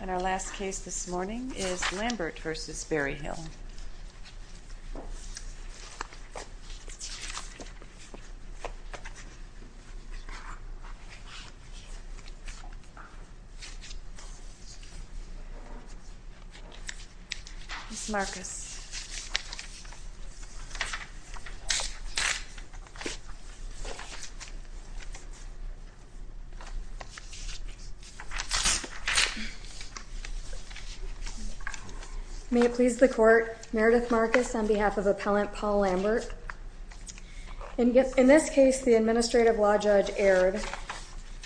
And our last case this morning is Lambert v. Berryhill. Ms. Marcus. May it please the court, Meredith Marcus on behalf of Appellant Paul Lambert. In this case, the Administrative Law Judge erred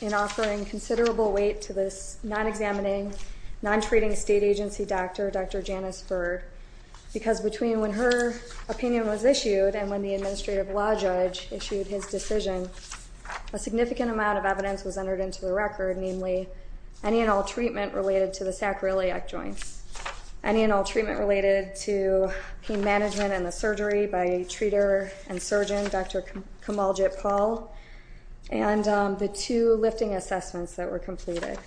in offering considerable weight to this non-examining, non-treating state agency doctor, Dr. Janice Burr, because between when her opinion was issued and when the Administrative Law Judge issued his decision, a significant amount of evidence was entered into the record, namely any and all treatment related to the sacroiliac joints, any and all treatment related to pain management and the surgery by a treater and surgeon, Dr. Kamaljit Paul, and the two lifting assessments that were completed.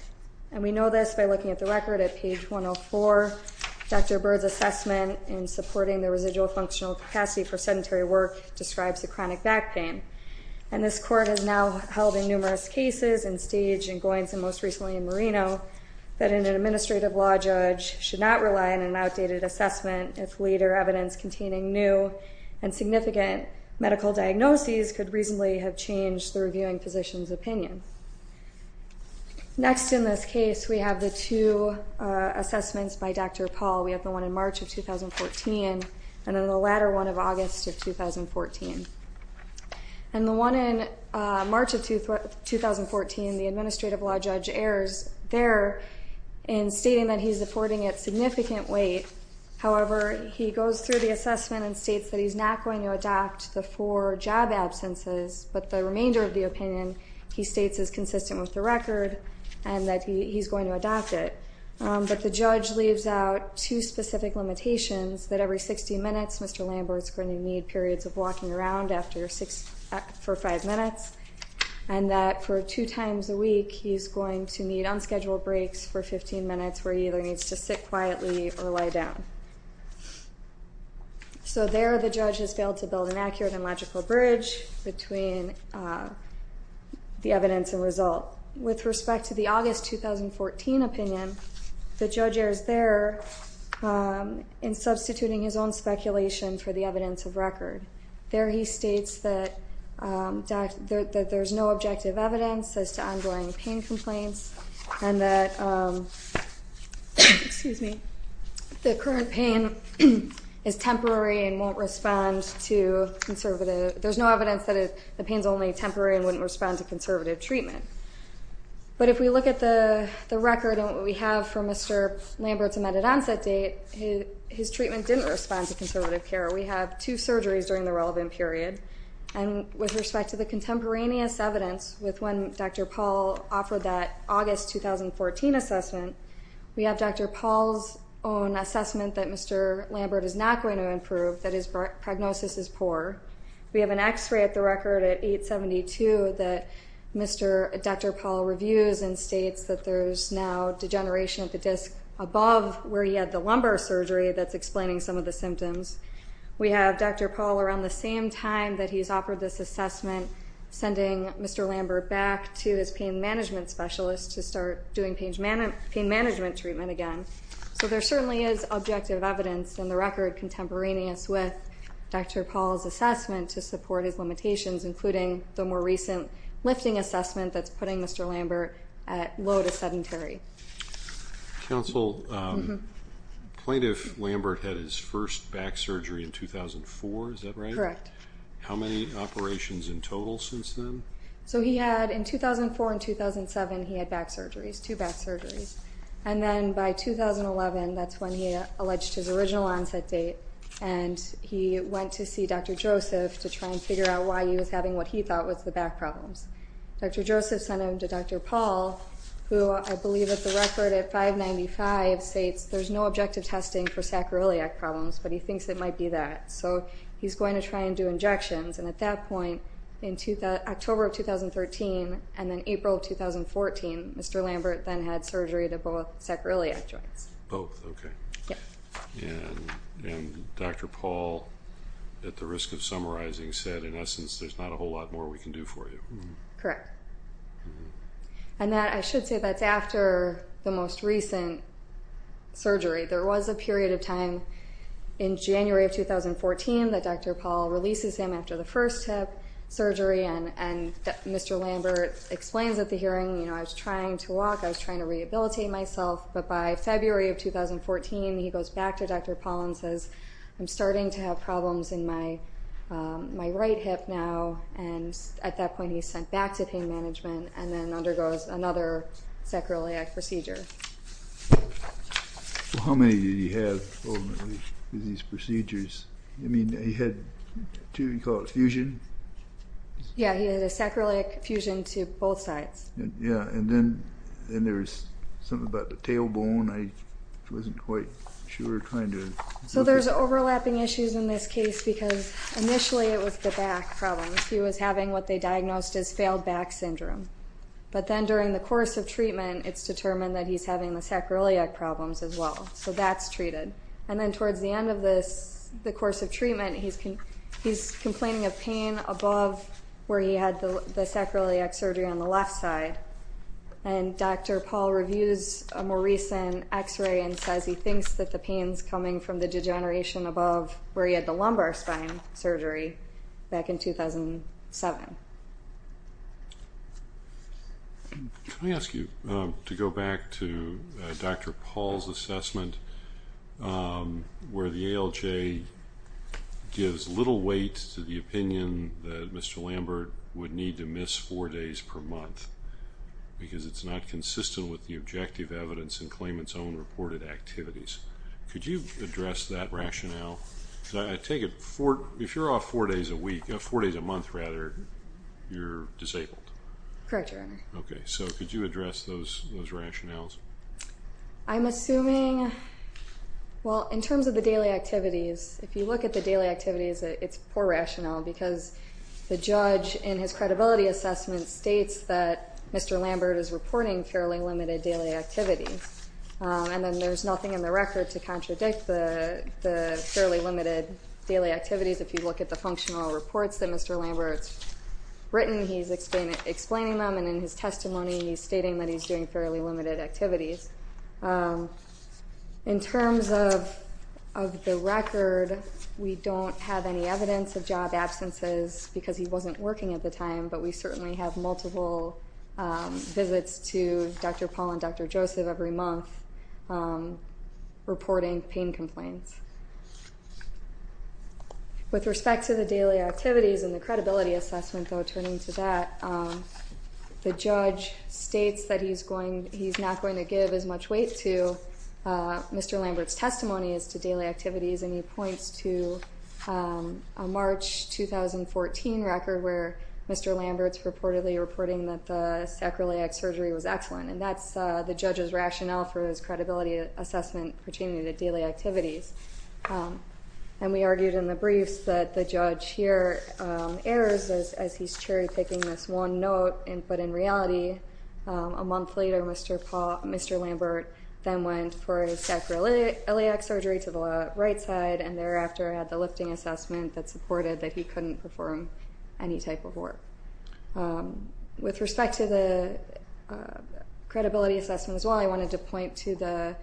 And we know this by looking at the record at page 104, Dr. Burr's assessment in supporting the residual functional capacity for sedentary work describes the chronic back pain. And this court has now held in numerous cases and staged in Goins and most recently in Marino that an Administrative Law Judge should not rely on an outdated assessment if later evidence containing new and significant medical diagnoses could reasonably have changed the reviewing physician's opinion. Next in this case, we have the two assessments by Dr. Paul. We have the one in March of 2014 and then the latter one of August of 2014. And the one in March of 2014, the Administrative Law Judge errs there in stating that he's affording it significant weight. However, he goes through the assessment and states that he's not going to adopt the four job absences, but the remainder of the opinion he states is consistent with the record and that he's going to adopt it. But the judge leaves out two specific limitations, that every 60 minutes, Mr. Lambert's going to need periods of walking around for five minutes, and that for two times a week, he's going to need unscheduled breaks for 15 minutes where he either needs to sit quietly or lie down. So there, the judge has failed to build an accurate and logical bridge between the evidence and result. With respect to the August 2014 opinion, the judge errs there in substituting his own speculation for the evidence of record. There he states that there's no objective evidence as to ongoing pain complaints and that the current pain is temporary and won't respond to conservative, there's no evidence that the pain's only temporary and wouldn't respond to conservative treatment. But if we look at the record and what we have from Mr. Lambert's amended onset date, his treatment didn't respond to conservative care. We have two surgeries during the relevant period. And with respect to the contemporaneous evidence with when Dr. Paul offered that August 2014 assessment, we have Dr. Paul's own assessment that Mr. Lambert is not going to improve, that his prognosis is poor. We have an x-ray at the record at 8-72 that Dr. Paul reviews and states that there's now degeneration of the disc above where he had the lumbar surgery that's explaining some of the symptoms. We have Dr. Paul around the same time that he's offered this assessment, sending Mr. Lambert back to his pain management specialist to start doing pain management treatment again. So there certainly is objective evidence in the record contemporaneous with Dr. Paul's assessment to support his limitations, including the more recent lifting assessment that's putting Mr. Lambert at low to sedentary. Counsel, plaintiff Lambert had his first back surgery in 2004, is that right? Correct. How many operations in total since then? So he had, in 2004 and 2007, he had back surgeries, two back surgeries. And then by 2011, that's when he alleged his original onset date, and he went to see Dr. Joseph to try and figure out why he was having what he thought was the back problems. Dr. Joseph sent him to Dr. Paul, who I believe at the record at 595 states there's no objective testing for sacroiliac problems, but he thinks it might be that. So he's going to try and do injections, and at that point in October of 2013 and then April of 2014, Mr. Lambert then had surgery to both sacroiliac joints. Both, okay. Yep. And Dr. Paul, at the risk of summarizing, said in essence there's not a whole lot more we can do for you. Correct. And that, I should say, that's after the most recent surgery. There was a period of time in January of 2014 that Dr. Paul releases him after the first hip surgery, and Mr. Lambert explains at the hearing, you know, I was trying to walk, I was trying to rehabilitate myself, but by February of 2014, he goes back to Dr. Paul and says, I'm starting to have problems in my right hip now, and at that point he's sent back to pain management and then undergoes another sacroiliac procedure. Well, how many did he have ultimately with these procedures? I mean, he had two, you call it fusion? Yeah, he had a sacroiliac fusion to both sides. Yeah, and then there was something about the tailbone, I wasn't quite sure. So there's overlapping issues in this case because initially it was the back problem. He was having what they diagnosed as failed back syndrome, but then during the course of treatment, it's determined that he's having the sacroiliac problems as well, so that's treated. And then towards the end of the course of treatment, he's complaining of pain above where he had the sacroiliac surgery on the left side, and Dr. Paul reviews a more recent x-ray and says he thinks that the pain's coming from the degeneration above where he had the lumbar spine surgery back in 2007. Can I ask you to go back to Dr. Paul's assessment where the ALJ gives little weight to the opinion that Mr. Lambert would need to miss four days per month because it's not consistent with the objective evidence and claimant's own reported activities. Could you address that rationale? I take it if you're off four days a week, four days a month rather, you're disabled? Correct, Your Honor. Okay, so could you address those rationales? I'm assuming, well, in terms of the daily activities, if you look at the daily activities, it's poor rationale because the judge in his credibility assessment states that Mr. Lambert is reporting fairly limited daily activities, and then there's nothing in the record to contradict the fairly limited daily activities. If you look at the functional reports that Mr. Lambert's written, he's explaining them, and in his testimony, he's stating that he's doing fairly limited activities. In terms of the record, we don't have any evidence of job absences because he wasn't working at the time, but we certainly have multiple visits to Dr. Paul and Dr. Joseph every month reporting pain complaints. With respect to the daily activities and the credibility assessment, though, turning to that, the judge states that he's not going to give as much weight to Mr. Lambert's testimony as to daily activities, and he points to a March 2014 record where Mr. Lambert's reportedly reporting that the sacroiliac surgery was excellent, and that's the judge's rationale for his credibility assessment pertaining to daily activities. And we argued in the briefs that the judge here errs as he's cherry-picking this one note, but in reality, a month later, Mr. Lambert then went for a sacroiliac surgery to the right side, and thereafter had the lifting assessment that supported that he couldn't perform any type of work. With respect to the credibility assessment as well, I wanted to point to the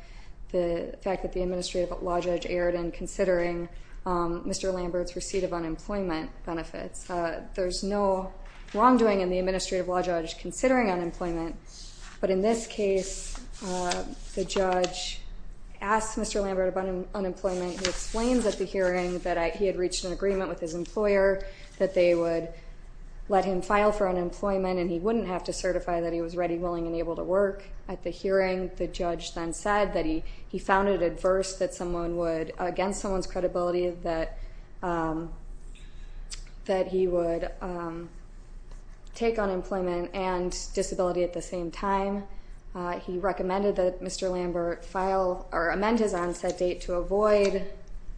fact that the Administrative Law Judge erred in considering Mr. Lambert's receipt of unemployment benefits. There's no wrongdoing in the Administrative Law Judge considering unemployment, but in this case, the judge asked Mr. Lambert about unemployment. He explains at the hearing that he had reached an agreement with his employer that they would let him file for unemployment and he wouldn't have to certify that he was ready, willing, and able to work. At the hearing, the judge then said that he found it adverse that someone would, against someone's credibility, that he would take unemployment and disability at the same time. He recommended that Mr. Lambert file or amend his onset date to avoid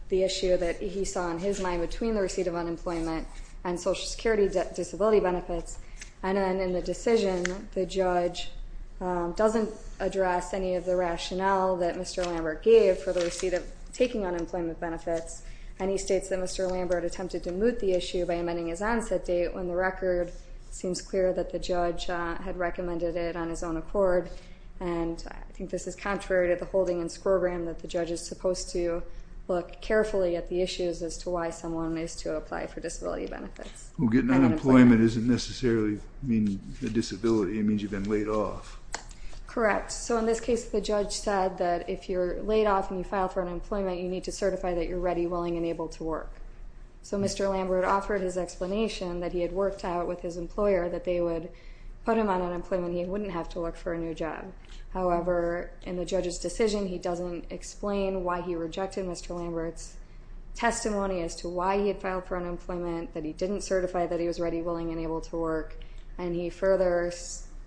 the issue that he saw in his mind between the receipt of unemployment and Social Security disability benefits. And then in the decision, the judge doesn't address any of the rationale that Mr. Lambert gave for the receipt of taking unemployment benefits. And he states that Mr. Lambert attempted to moot the issue by amending his onset date when the record seems clear that the judge had recommended it on his own accord. And I think this is contrary to the holdings program that the judge is supposed to look carefully at the issues as to why someone is to apply for disability benefits. Well, getting unemployment doesn't necessarily mean a disability. It means you've been laid off. Correct. So in this case, the judge said that if you're laid off and you file for unemployment, you need to certify that you're ready, willing, and able to work. So Mr. Lambert offered his explanation that he had worked out with his employer that they would put him on unemployment and he wouldn't have to look for a new job. However, in the judge's decision, he doesn't explain why he rejected Mr. Lambert's testimony as to why he had filed for unemployment, that he didn't certify that he was ready, willing, and able to work, and he further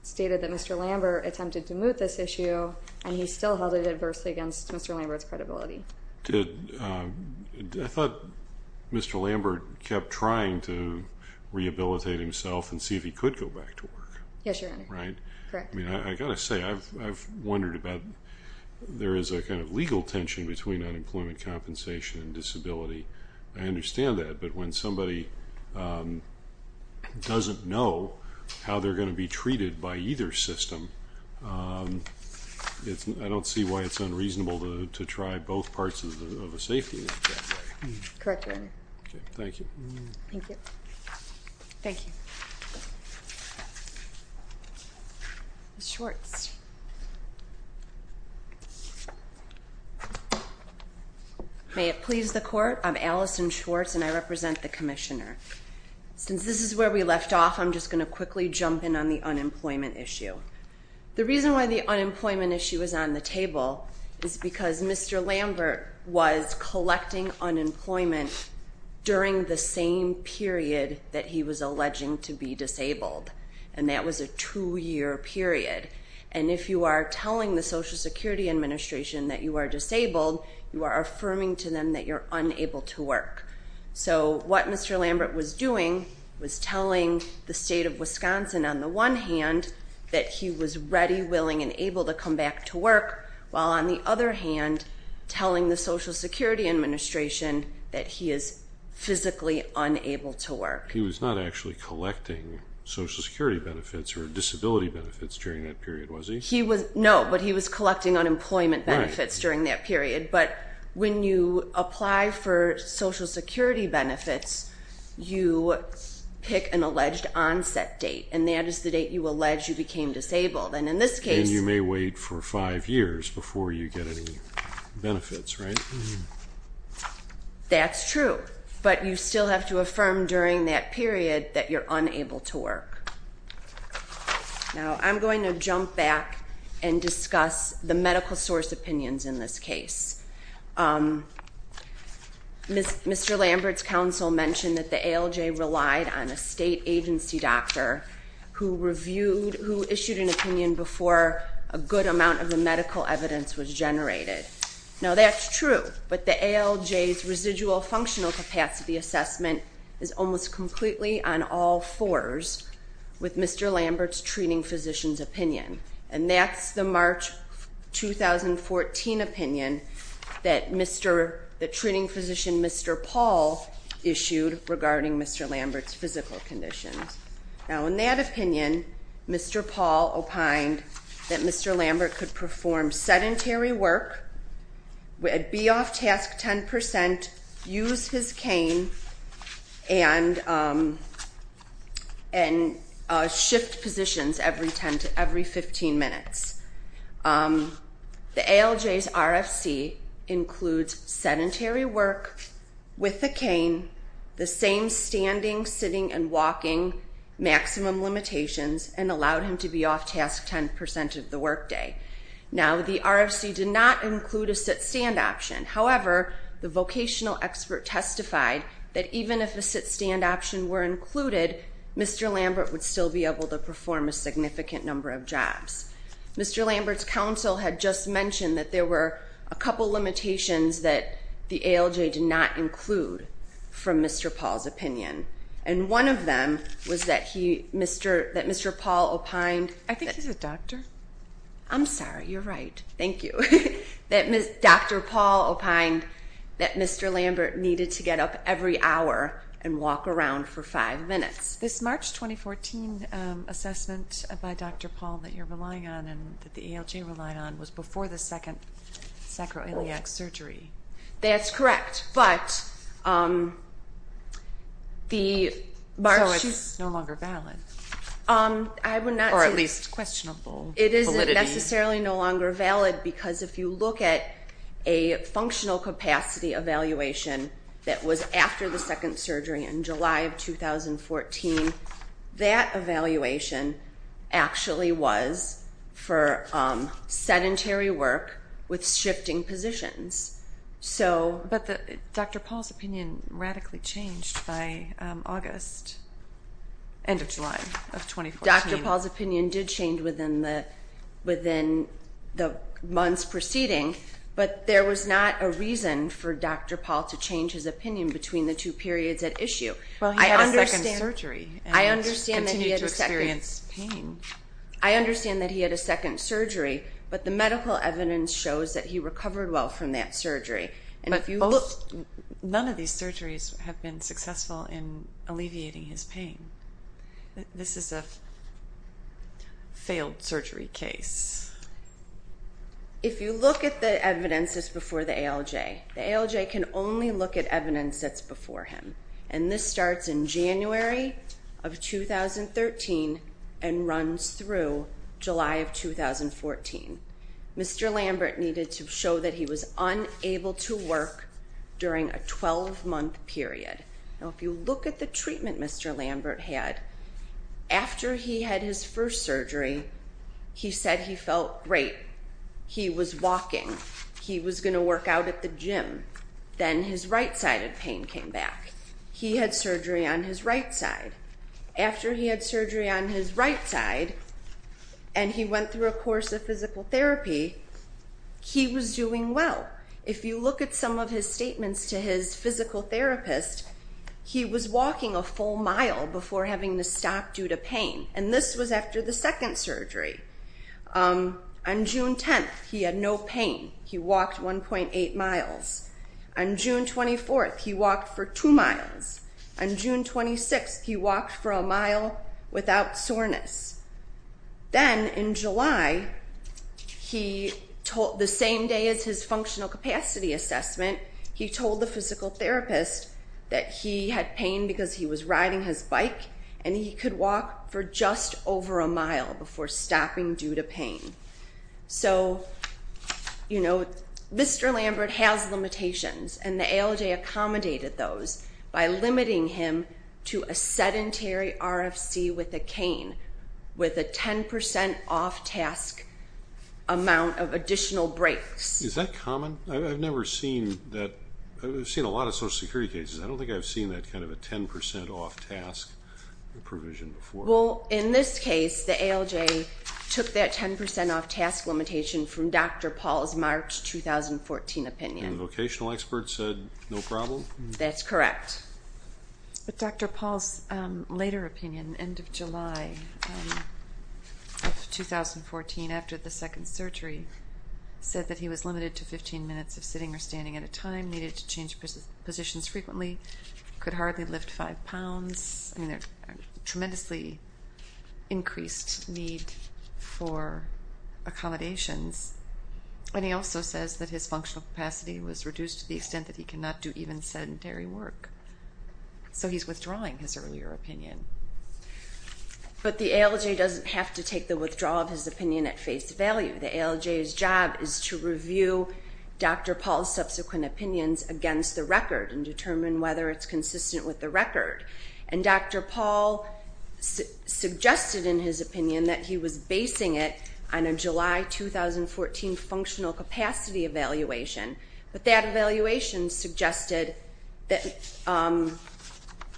stated that Mr. Lambert attempted to moot this issue and he still held it adversely against Mr. Lambert's credibility. I thought Mr. Lambert kept trying to rehabilitate himself and see if he could go back to work. Yes, Your Honor. Right? Correct. I've got to say, I've wondered about there is a kind of legal tension between unemployment compensation and disability. I understand that, but when somebody doesn't know how they're going to be treated by either system, I don't see why it's unreasonable to try both parts of a safety net that way. Correct, Your Honor. Okay, thank you. Thank you. Thank you. Ms. Schwartz. May it please the Court, I'm Allison Schwartz, and I represent the Commissioner. Since this is where we left off, I'm just going to quickly jump in on the unemployment issue. The reason why the unemployment issue is on the table is because Mr. Lambert was collecting unemployment during the same period that he was alleging to be disabled, and that was a two-year period. And if you are telling the Social Security Administration that you are disabled, you are affirming to them that you're unable to work. So what Mr. Lambert was doing was telling the state of Wisconsin, on the one hand, that he was ready, willing, and able to come back to work, while, on the other hand, telling the Social Security Administration that he is physically unable to work. He was not actually collecting Social Security benefits or disability benefits during that period, was he? No, but he was collecting unemployment benefits during that period. But when you apply for Social Security benefits, you pick an alleged onset date, and that is the date you allege you became disabled. And in this case... And you may wait for five years before you get any benefits, right? That's true, but you still have to affirm during that period that you're unable to work. Now, I'm going to jump back and discuss the medical source opinions in this case. Mr. Lambert's counsel mentioned that the ALJ relied on a state agency doctor who issued an opinion before a good amount of the medical evidence was generated. Now, that's true, but the ALJ's residual functional capacity assessment is almost completely on all fours with Mr. Lambert's treating physician's opinion. And that's the March 2014 opinion that the treating physician, Mr. Paul, issued regarding Mr. Lambert's physical conditions. Now, in that opinion, Mr. Paul opined that Mr. Lambert could perform sedentary work, be off task 10 percent, use his cane, and shift positions every 15 minutes. The ALJ's RFC includes sedentary work with a cane, the same standing, sitting, and walking maximum limitations, and allowed him to be off task 10 percent of the workday. Now, the RFC did not include a sit-stand option. However, the vocational expert testified that even if a sit-stand option were included, Mr. Lambert would still be able to perform a significant number of jobs. Mr. Lambert's counsel had just mentioned that there were a couple limitations that the ALJ did not include from Mr. Paul's opinion. And one of them was that Mr. Paul opined that Mr. Lambert needed to get up every hour and walk around for five minutes. This March 2014 assessment by Dr. Paul that you're relying on and that the ALJ relied on was before the second sacroiliac surgery. That's correct, but the March... So it's no longer valid, or at least questionable validity. It is necessarily no longer valid because if you look at a functional capacity evaluation that was after the second surgery in July of 2014, that evaluation actually was for sedentary work with shifting positions. But Dr. Paul's opinion radically changed by August, end of July of 2014. Dr. Paul's opinion did change within the months preceding, but there was not a reason for Dr. Paul to change his opinion between the two periods at issue. Well, he had a second surgery and continued to experience pain. I understand that he had a second surgery, but the medical evidence shows that he recovered well from that surgery. But none of these surgeries have been successful in alleviating his pain. This is a failed surgery case. If you look at the evidence that's before the ALJ, the ALJ can only look at evidence that's before him, and this starts in January of 2013 and runs through July of 2014. Mr. Lambert needed to show that he was unable to work during a 12-month period. Now, if you look at the treatment Mr. Lambert had, after he had his first surgery, he said he felt great. He was walking. He was going to work out at the gym. Then his right-sided pain came back. He had surgery on his right side. After he had surgery on his right side and he went through a course of physical therapy, he was doing well. If you look at some of his statements to his physical therapist, he was walking a full mile before having to stop due to pain, and this was after the second surgery. On June 10th, he had no pain. He walked 1.8 miles. On June 24th, he walked for 2 miles. On June 26th, he walked for a mile without soreness. Then in July, the same day as his functional capacity assessment, he told the physical therapist that he had pain because he was riding his bike and he could walk for just over a mile before stopping due to pain. So, you know, Mr. Lambert has limitations, and the ALJ accommodated those by limiting him to a sedentary RFC with a cane with a 10% off-task amount of additional breaks. Is that common? I've never seen that. I've seen a lot of Social Security cases. I don't think I've seen that kind of a 10% off-task provision before. Well, in this case, the ALJ took that 10% off-task limitation from Dr. Paul's March 2014 opinion. And the vocational expert said no problem? That's correct. But Dr. Paul's later opinion, end of July of 2014, after the second surgery, said that he was limited to 15 minutes of sitting or standing at a time, needed to change positions frequently, could hardly lift five pounds, and there was a tremendously increased need for accommodations. And he also says that his functional capacity was reduced to the extent that he cannot do even sedentary work. So he's withdrawing his earlier opinion. But the ALJ doesn't have to take the withdrawal of his opinion at face value. The ALJ's job is to review Dr. Paul's subsequent opinions against the record and determine whether it's consistent with the record. And Dr. Paul suggested in his opinion that he was basing it on a July 2014 functional capacity evaluation. But that evaluation suggested that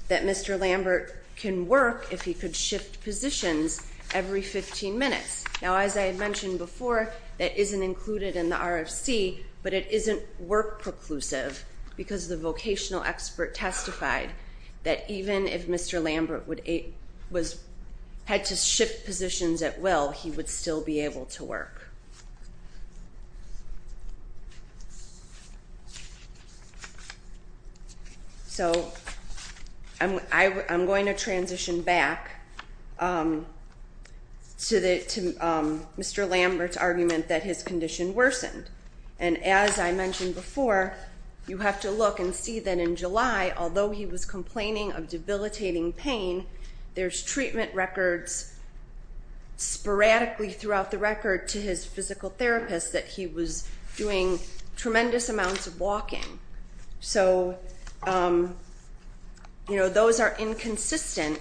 Mr. Lambert can work if he could shift positions every 15 minutes. Now, as I had mentioned before, that isn't included in the RFC, but it isn't work preclusive because the vocational expert testified that even if Mr. Lambert had to shift positions at will, he would still be able to work. So I'm going to transition back to Mr. Lambert's argument that his condition worsened. And as I mentioned before, you have to look and see that in July, although he was complaining of debilitating pain, there's treatment records sporadically throughout the record to his friend, his physical therapist, that he was doing tremendous amounts of walking. So those are inconsistent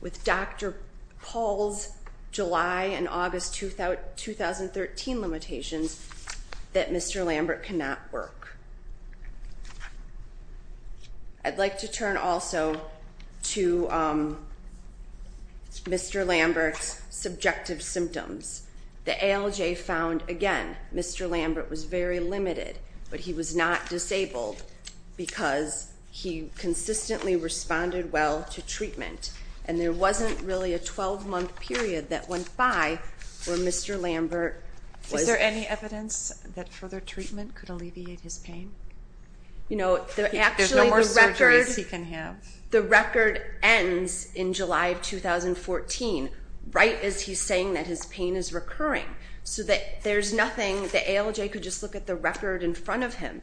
with Dr. Paul's July and August 2013 limitations that Mr. Lambert cannot work. I'd like to turn also to Mr. Lambert's subjective symptoms. The ALJ found, again, Mr. Lambert was very limited, but he was not disabled because he consistently responded well to treatment. And there wasn't really a 12-month period that went by where Mr. Lambert was- Is there any evidence that further treatment could alleviate his pain? There's no more surgeries he can have. The record ends in July of 2014, right as he's saying that his pain is recurring, so that there's nothing-the ALJ could just look at the record in front of him.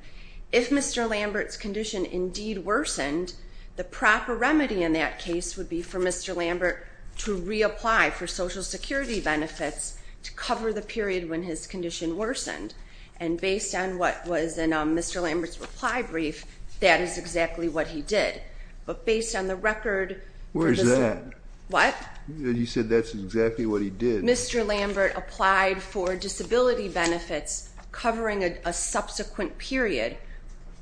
If Mr. Lambert's condition indeed worsened, the proper remedy in that case would be for Mr. Lambert to reapply for Social Security benefits to cover the period when his condition worsened. And based on what was in Mr. Lambert's reply brief, that is exactly what he did. But based on the record- Where is that? What? You said that's exactly what he did. Mr. Lambert applied for disability benefits covering a subsequent period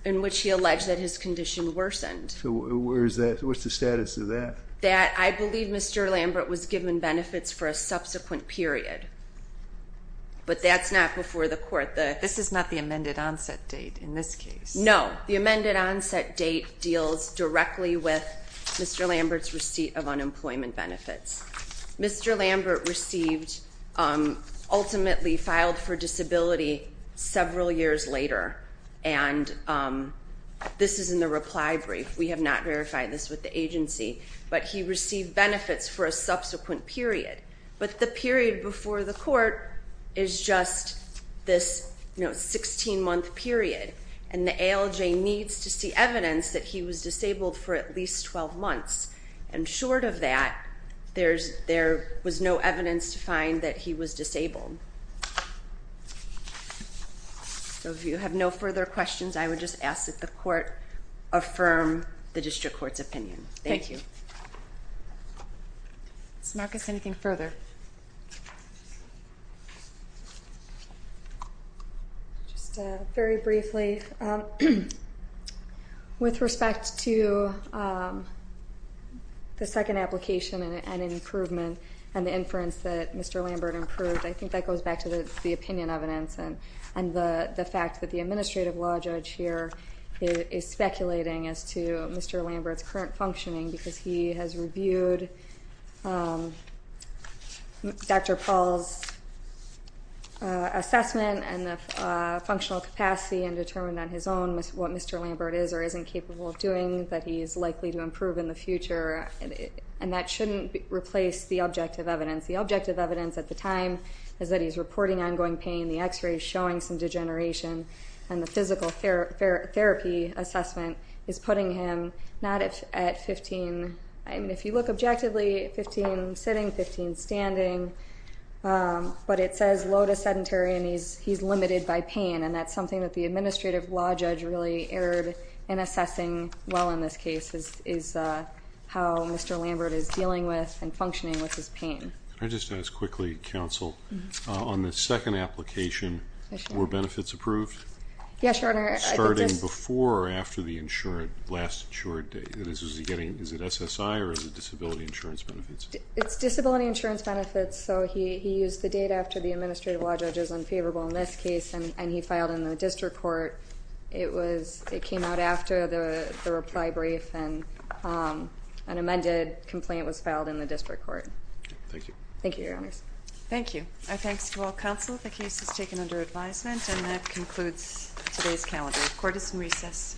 in which he alleged that his condition worsened. So where is that? What's the status of that? That I believe Mr. Lambert was given benefits for a subsequent period. But that's not before the court. This is not the amended onset date in this case. No, the amended onset date deals directly with Mr. Lambert's receipt of unemployment benefits. Mr. Lambert received-ultimately filed for disability several years later, and this is in the reply brief. We have not verified this with the agency, but he received benefits for a subsequent period. But the period before the court is just this 16-month period, and the ALJ needs to see evidence that he was disabled for at least 12 months. And short of that, there was no evidence to find that he was disabled. So if you have no further questions, I would just ask that the court affirm the district court's opinion. Thank you. Ms. Marcus, anything further? Sure. Just very briefly, with respect to the second application and an improvement and the inference that Mr. Lambert improved, I think that goes back to the opinion evidence and the fact that the administrative law judge here is speculating as to Mr. Lambert's current functioning because he has reviewed Dr. Paul's assessment and the functional capacity and determined on his own what Mr. Lambert is or isn't capable of doing that he is likely to improve in the future. And that shouldn't replace the objective evidence. The objective evidence at the time is that he's reporting ongoing pain. The X-ray is showing some degeneration. And the physical therapy assessment is putting him not at 15. I mean, if you look objectively, 15 sitting, 15 standing. But it says low to sedentary, and he's limited by pain. And that's something that the administrative law judge really erred in assessing well in this case is how Mr. Lambert is dealing with and functioning with his pain. Can I just ask quickly, counsel, on the second application, were benefits approved? Yes, Your Honor. Starting before or after the last insured? Is it SSI or is it disability insurance benefits? It's disability insurance benefits. So he used the data after the administrative law judge was unfavorable in this case, and he filed in the district court. It came out after the reply brief, and an amended complaint was filed in the district court. Thank you. Thank you, Your Honor. Thank you. Our thanks to all counsel. The case is taken under advisement, and that concludes today's calendar. Court is in recess. Thank you.